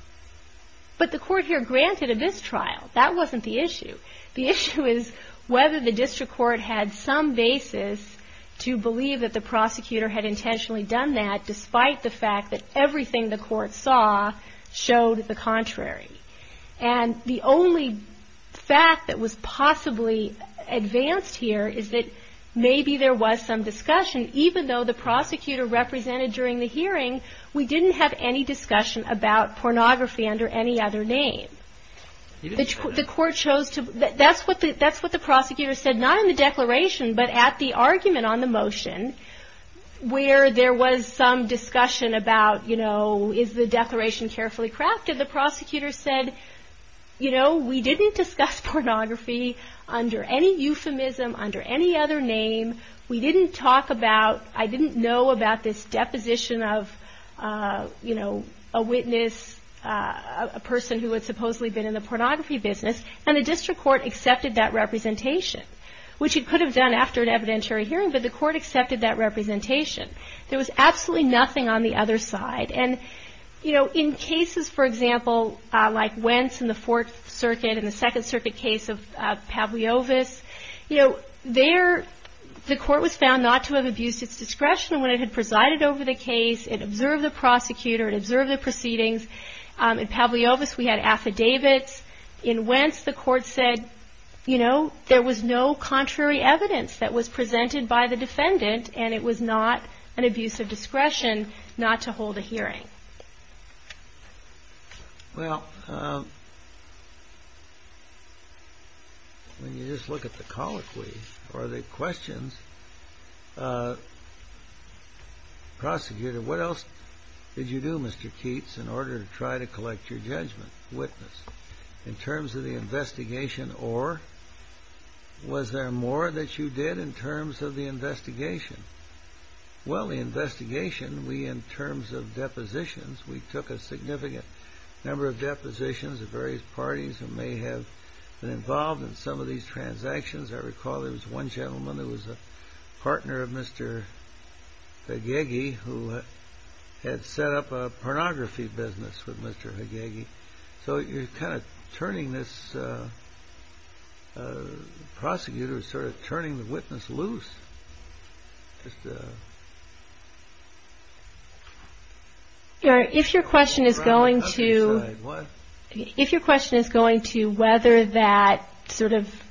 But the court here granted a mistrial. That wasn't the issue. The issue is whether the district court had some basis to believe that the prosecutor had intentionally done that, despite the fact that everything the court saw showed the contrary. And the only fact that was possibly advanced here is that maybe there was some discussion. Even though the prosecutor represented during the hearing, we didn't have any discussion about pornography under any other name. The court chose to, that's what the prosecutor said, not in the declaration, but at the argument on the motion where there was some discussion about, you know, is the declaration carefully crafted? The prosecutor said, you know, we didn't discuss pornography under any euphemism, under any other name. We didn't talk about, I didn't know about this deposition of, you know, a witness, a person who had supposedly been in the pornography business. And the district court accepted that representation, which it could have done after an evidentiary hearing, but the court accepted that representation. There was absolutely nothing on the other side. And, you know, in cases, for example, like Wentz in the Fourth Circuit and the Second Circuit case of Pavliovis, you know, there, the court was found not to have abused its discretion when it had presided over the case, it observed the prosecutor, it observed the proceedings. In Pavliovis, we had affidavits. In Wentz, the court said, you know, there was no contrary evidence that was presented by the defendant and it was not an abuse of discretion not to hold a hearing. Well, when you just look at the colloquy or the questions, prosecutor, what else did you do, Mr. Keats, in order to try to collect your judgment, witness, in terms of the investigation or was there more that you did in terms of the investigation? Well, the investigation, we, in terms of depositions, we took a significant number of depositions of various parties who may have been involved in some of these transactions. I recall there was one gentleman who was a partner of Mr. Hagegi who had set up a pornography business with Mr. Hagegi. So you're kind of turning this prosecutor, sort of turning the witness loose. If your question is going to whether that sort of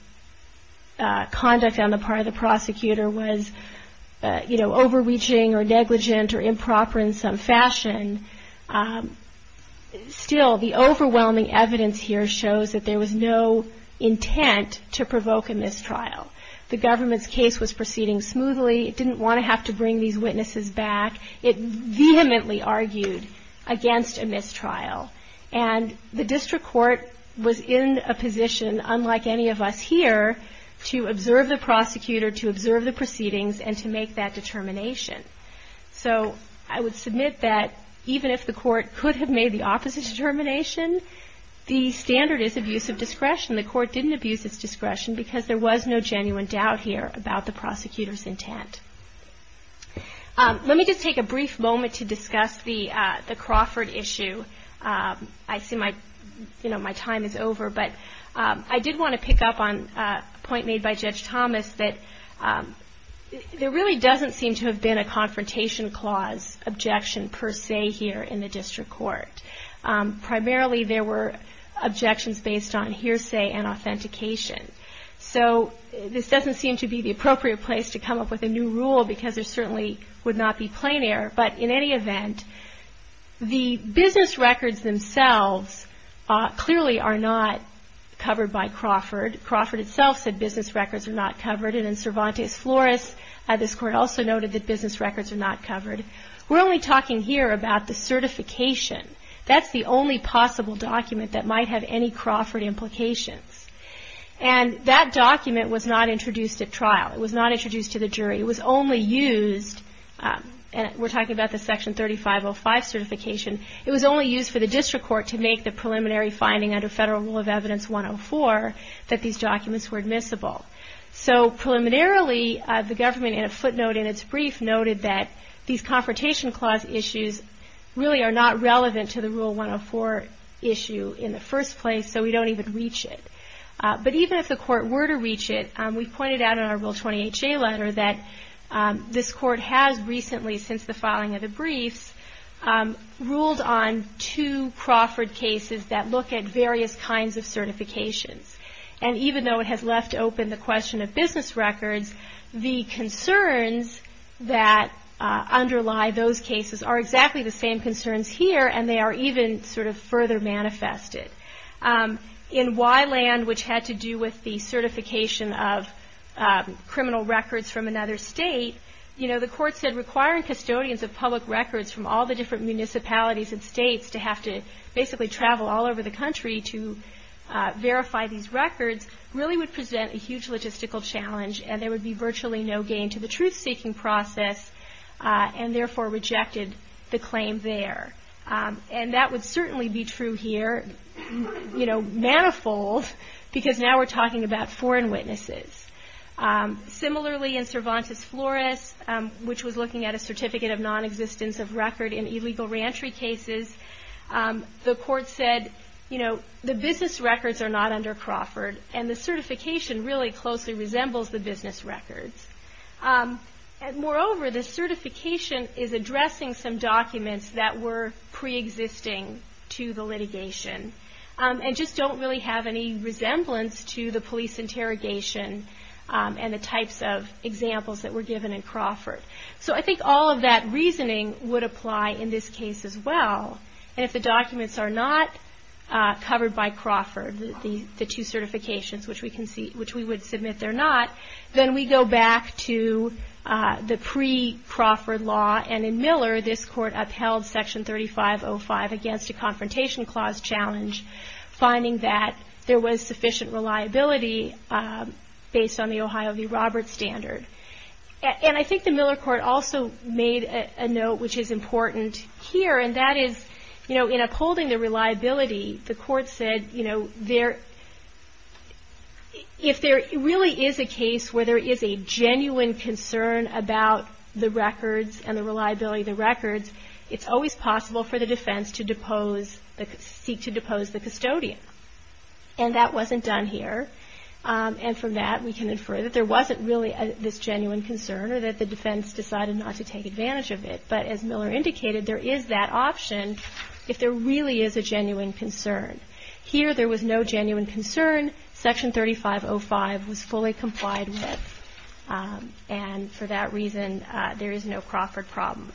conduct on the part of the prosecutor was, you know, overreaching or negligent or improper in some fashion, still the overwhelming evidence here shows that there was no intent to provoke a mistrial. The government's case was proceeding smoothly. It didn't want to have to bring these witnesses back. It vehemently argued against a mistrial and the district court was in a position, unlike any of us here, to observe the prosecutor, to observe the proceedings and to make that determination. So I would submit that even if the court could have made the opposite determination, the standard is abuse of discretion. The court didn't abuse its discretion because there was no genuine doubt here about the prosecutor's intent. Let me just take a brief moment to discuss the Crawford issue. I see my time is over, but I did want to pick up on a point made by Judge Thomas that there really doesn't seem to have been a confrontation clause objection per se here in the district court. Primarily there were objections based on hearsay and authentication. So this doesn't seem to be the appropriate place to come up with a new rule because there certainly would not be plain error, but in any event, the business records themselves clearly are not covered by Crawford. Crawford itself said business records are not covered and in Cervantes Flores, this court also noted that business records are not covered. We're only talking here about the certification. That's the only possible document that might have any Crawford implications. And that document was not introduced at trial. It was not introduced to the jury. It was only used, and we're talking about the Section 3505 certification, it was only used for the district court to make the preliminary finding under Federal Rule of Evidence 104 that these documents were admissible. So preliminarily the government in a footnote in its brief noted that these confrontation clause issues really are not relevant to the Rule 104 issue in the first place, so we don't even reach it. But even if the court were to reach it, we pointed out in our Rule 20HA letter that this court has recently, since the filing of the briefs, ruled on two Crawford cases that look at various kinds of certifications. And even though it has left open the question of business records, the concerns that underlie those cases are exactly the same concerns here, and they are even sort of further manifested. In Wyland, which had to do with the certification of criminal records from another state, the court said requiring custodians of public records from all the different municipalities and states to have to basically travel all over the country to verify these records really would present a huge logistical challenge, and there would be virtually no gain to the truth-seeking process, and therefore rejected the claim there. And that would certainly be true here, you know, manifold, because now we're talking about foreign witnesses. Similarly in Cervantes Flores, which was looking at a certificate of nonexistence of record in illegal reentry cases, the court said, you know, the business records are not under Crawford, and the certification really closely resembles the business records. Moreover, the certification is addressing some documents that were preexisting to the litigation, and just don't really have any resemblance to the police interrogation and the types of examples that were given in Crawford. So I think all of that reasoning would apply in this case as well, and if the documents are not covered by Crawford, the two certifications which we would submit they're not, then we go back to the pre-Crawford law, and in Miller, this court upheld section 3505 against a confrontation clause challenge, finding that there was sufficient reliability based on the Ohio v. Roberts standard. And I think the Miller court also made a note which is important here, and that is, you know, in upholding the reliability, the court said, you know, if there really is a case where there is a genuine concern about the records and the reliability of the records, it's always possible for the defense to depose, seek to depose the custodian. And that wasn't done here. And from that, we can infer that there wasn't really this genuine concern or that the defense decided not to take advantage of it. But as Miller indicated, there is that option if there really is a genuine concern. Here, there was no genuine concern. Section 3505 was fully complied with. And for that reason, there is no Crawford problem.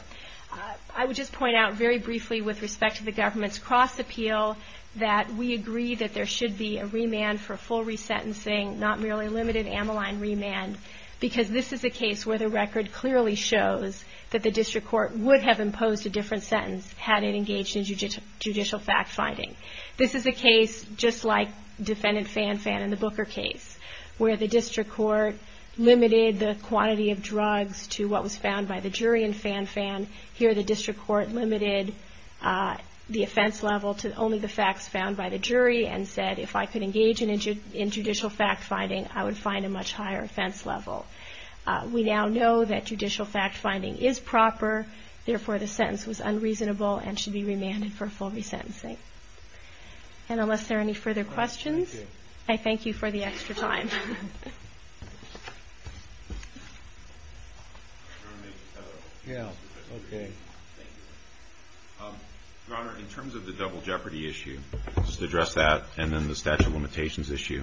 I would just point out very briefly with respect to the government's cross-appeal that we agree that there should be a remand for full resentencing, not merely limited amyline remand, because this is a case where the record clearly shows that the district court would have imposed a different sentence had it engaged in judicial fact-finding. This is a case just like Defendant Fanfan in the Booker case, where the district court limited the quantity of drugs to what was found by the jury in Fanfan. Here, the district court limited the offense level to only the facts found by the jury and said, if I could engage in judicial fact-finding, I would find a much higher offense level. We now know that judicial fact-finding is proper. Therefore, the sentence was unreasonable and should be remanded for full resentencing. And unless there are any further questions, I thank you for the extra time. Your Honor, in terms of the double jeopardy issue, just to address that, and then the statute of limitations issue,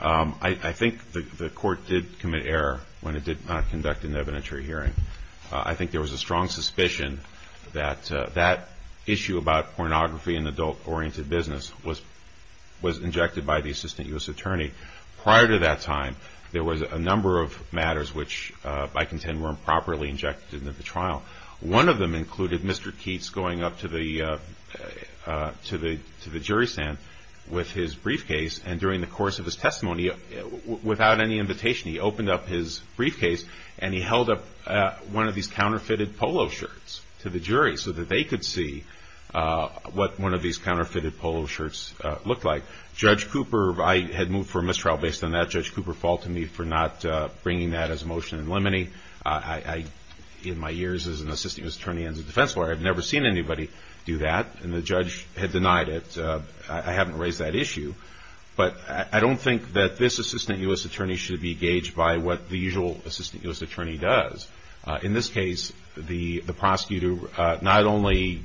I think the Court did commit error when it did not conduct an evidentiary hearing. I think there was a strong sense that the court had a strong suspicion that that issue about pornography and adult-oriented business was injected by the Assistant U.S. Attorney. Prior to that time, there was a number of matters which, I contend, were improperly injected into the trial. One of them included Mr. Keats going up to the jury stand with his briefcase, and during the course of his testimony, without any invitation, he opened up his polo shirts to the jury so that they could see what one of these counterfeited polo shirts looked like. Judge Cooper, I had moved for a mistrial based on that. Judge Cooper faulted me for not bringing that as a motion in limine. In my years as an Assistant U.S. Attorney and as a defense lawyer, I've never seen anybody do that, and the judge had denied it. I haven't raised that issue. But I don't think that this Assistant U.S. Attorney should be gauged by what the usual Assistant U.S. Attorney does. In this case, the prosecutor not only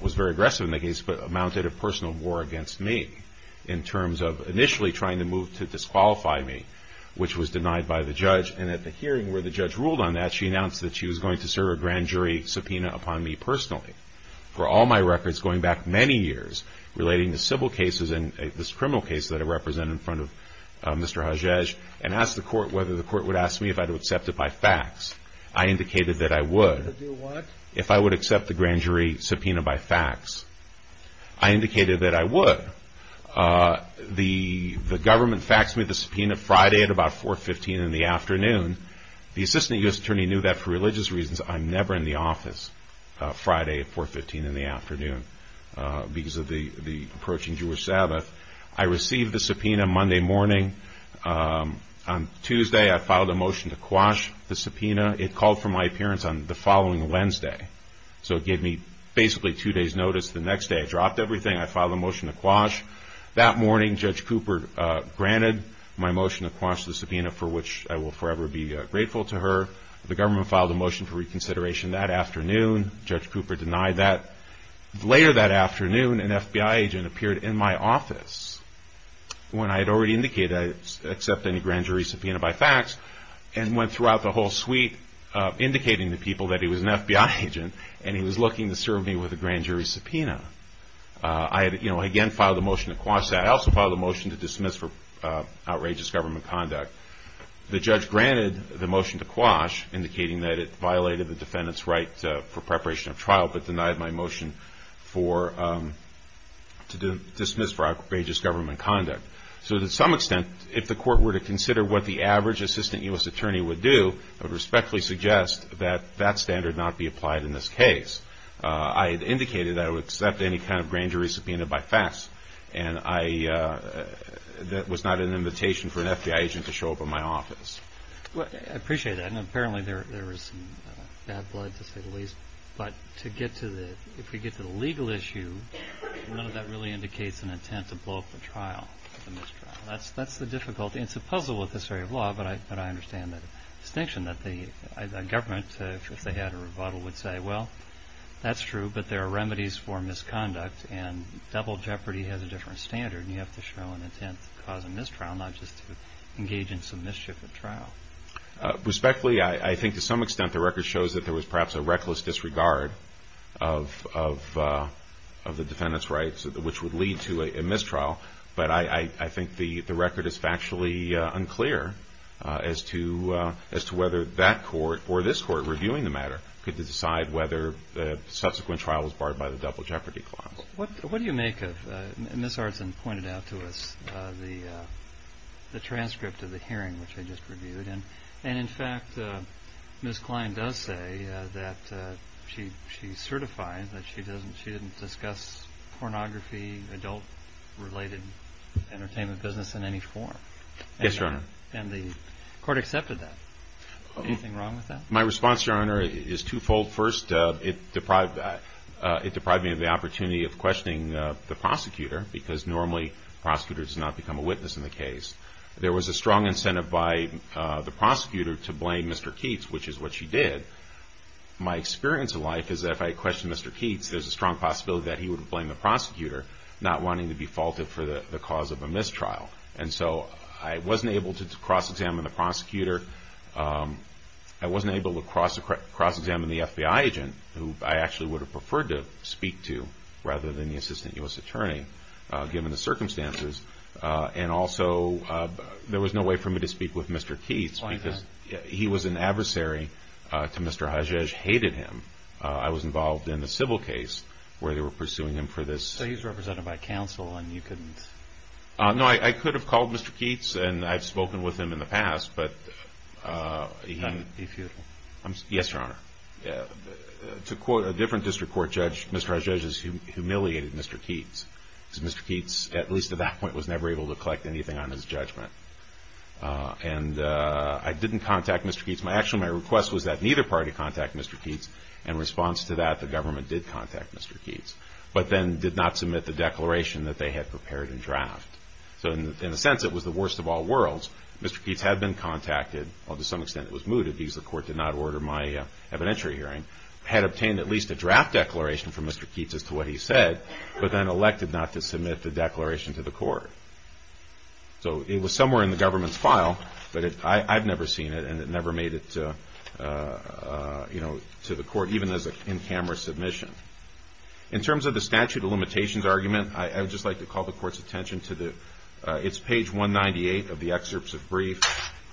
was very aggressive in the case, but mounted a personal war against me in terms of initially trying to move to disqualify me, which was denied by the judge. And at the hearing where the judge ruled on that, she announced that she was going to serve a grand jury subpoena upon me personally. For all my records going back many years relating to civil cases and this criminal case that I represent in front of Mr. Hajaj, and asked the court whether the court would ask me if I would accept it by fax, I indicated that I would. If I would accept the grand jury subpoena by fax, I indicated that I would. The government faxed me the subpoena Friday at about 4.15 in the afternoon. The Assistant U.S. Attorney knew that for religious reasons I'm never in the office Friday at 4.15 in the afternoon because of the approaching Jewish Sabbath. I received the subpoena Monday morning. On Tuesday I filed a motion to quash the subpoena. It called for my appearance on the following Wednesday. So it gave me basically two days notice. The next day I dropped everything. I filed a motion to quash. That morning Judge Cooper granted my motion to quash the subpoena for which I will forever be grateful to her. The government filed a motion for reconsideration that afternoon. Judge Cooper denied that. Later that afternoon an FBI agent appeared in my office. When I had already indicated I would accept any grand jury subpoena by fax and went throughout the whole suite indicating to people that he was an FBI agent and he was looking to serve me with a grand jury subpoena. I again filed a motion to quash that. I also filed a motion to dismiss for outrageous government conduct. The judge granted the motion to quash indicating that it violated the defendant's right for preparation of trial but denied my motion to dismiss for outrageous government conduct. So to some extent if the court were to consider what the average Assistant U.S. Attorney would do, I would respectfully suggest that that standard not be applied in this case. I had indicated that I would accept any kind of grand jury subpoena by fax. That was not an invitation for an FBI agent to show up in my office. I appreciate that. Apparently there was some bad blood to say the least. But if we get to the legal issue, none of that really indicates an intent to blow up the trial. That's the difficulty. It's a puzzle with this area of law but I understand the distinction that the government if they had a rebuttal would say well that's true but there are remedies for misconduct and double jeopardy has a different standard and you have to show an intent to cause a mistrial not just to engage in some mischief at trial. Respectfully I think to some extent the record shows that there was perhaps a reckless disregard of the defendant's rights which would lead to a mistrial but I think the record is factually unclear as to whether that court or this court reviewing the matter could decide whether the subsequent trial was barred by the double jeopardy clause. What do you make of the transcript of the hearing which I just reviewed? And in fact Ms. Klein does say that she's certified that she didn't discuss pornography, adult related entertainment business in any form. Yes, Your Honor. And the court accepted that. Anything wrong with that? My response, Your Honor, is two-fold. First, it deprived me of the opportunity of questioning the prosecutor because normally prosecutors do not become a witness in the case. There was a strong incentive by the prosecutor to blame Mr. Keats which is what she did. My experience of life is that if I questioned Mr. Keats there's a strong possibility that he would blame the prosecutor not wanting to be faulted for the cause of a mistrial and so I wasn't able to cross-examine the prosecutor. I wasn't able to cross-examine the FBI agent who I actually would have preferred to speak to rather than the assistant U.S. attorney given the circumstances. And also there was no way for me to speak with Mr. Keats because he was an adversary to Mr. Hajaj, hated him. I was involved in the civil case where they were pursuing him for this. So he's represented by counsel and you couldn't? No, I could have called Mr. Keats and I've spoken with him in the past but Yes, Your Honor. To quote a different district court judge, Mr. Hajaj has humiliated Mr. Keats because Mr. Keats at least at that point was never able to collect anything on his judgment. And I didn't contact Mr. Keats. Actually my request was that neither party contact Mr. Keats and in response to that the government did contact Mr. Keats but then did not submit the declaration that they had prepared in draft. So in a sense it was the worst of all worlds. Mr. Keats had been contacted, well to some extent it was mooted because the court did not order my evidentiary hearing. Had obtained at least a draft declaration from Mr. Keats as to what he said but then elected not to submit the declaration to the court. So it was somewhere in the government's file but I've never seen it and it never made it to the court even as an in-camera submission. In terms of the statute of limitations argument I would just like to call the court's attention to the it's page 198 of the excerpts of brief.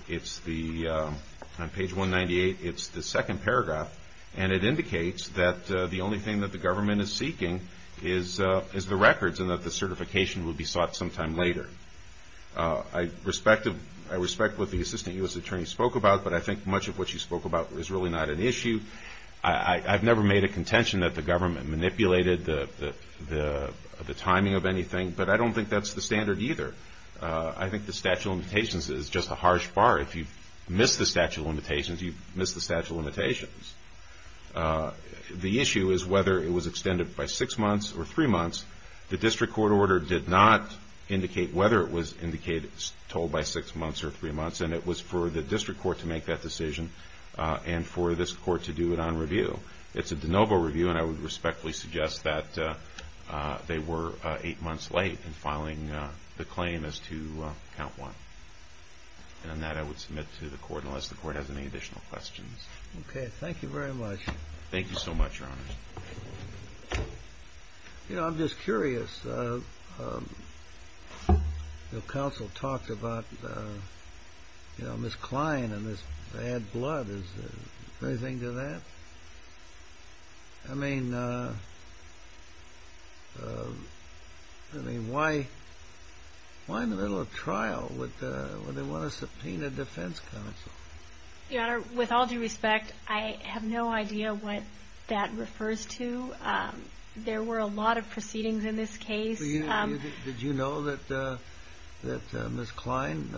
It's the on page 198 it's the second paragraph and it indicates that the only thing that the government is seeking is the records and that the certification will be sought sometime later. I respect what the Assistant U.S. Attorney spoke about but I think much of what she spoke about is really not an issue. I've never made a contention that the government manipulated the timing of anything but I don't think that's the standard either. I think the statute of limitations is just a harsh bar. If you miss the statute of limitations you've missed the statute of limitations. The issue is whether it was extended by six months or three months. The district court order did not indicate whether it was told by six months or three months and it was for the district court to make that decision and for this court to do it on review. It's a de novo review and I would respectfully suggest that they were eight months late in filing the claim as to count one. And on that I would submit to the court unless the court has any additional questions. Thank you so much. I'm just curious. The counsel talked about Ms. Kline and this bad blood. Is there anything to that? I mean why in the middle of trial would they want to subpoena defense counsel? Your Honor, with all due respect I have no idea what that refers to. There were a lot of proceedings in this case. Did you know that Ms. Kline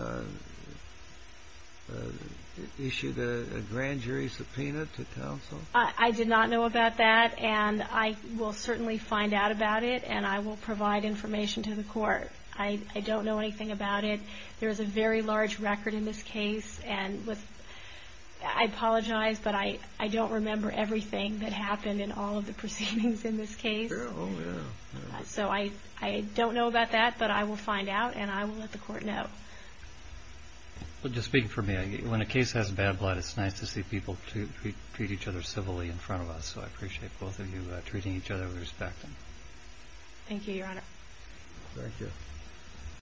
issued a grand jury subpoena to counsel? I did not know about that and I will certainly find out about it and I will provide information to the court. I don't know anything about it. There is a very large record in this case. I apologize but I don't remember everything that happened in all of the proceedings in this case. So I don't know about that but I will find out and I will let the court know. Just speaking for me, when a case has bad blood it's nice to see people treat each other civilly in front of us. So I appreciate both of you treating each other with respect. Thank you, Your Honor.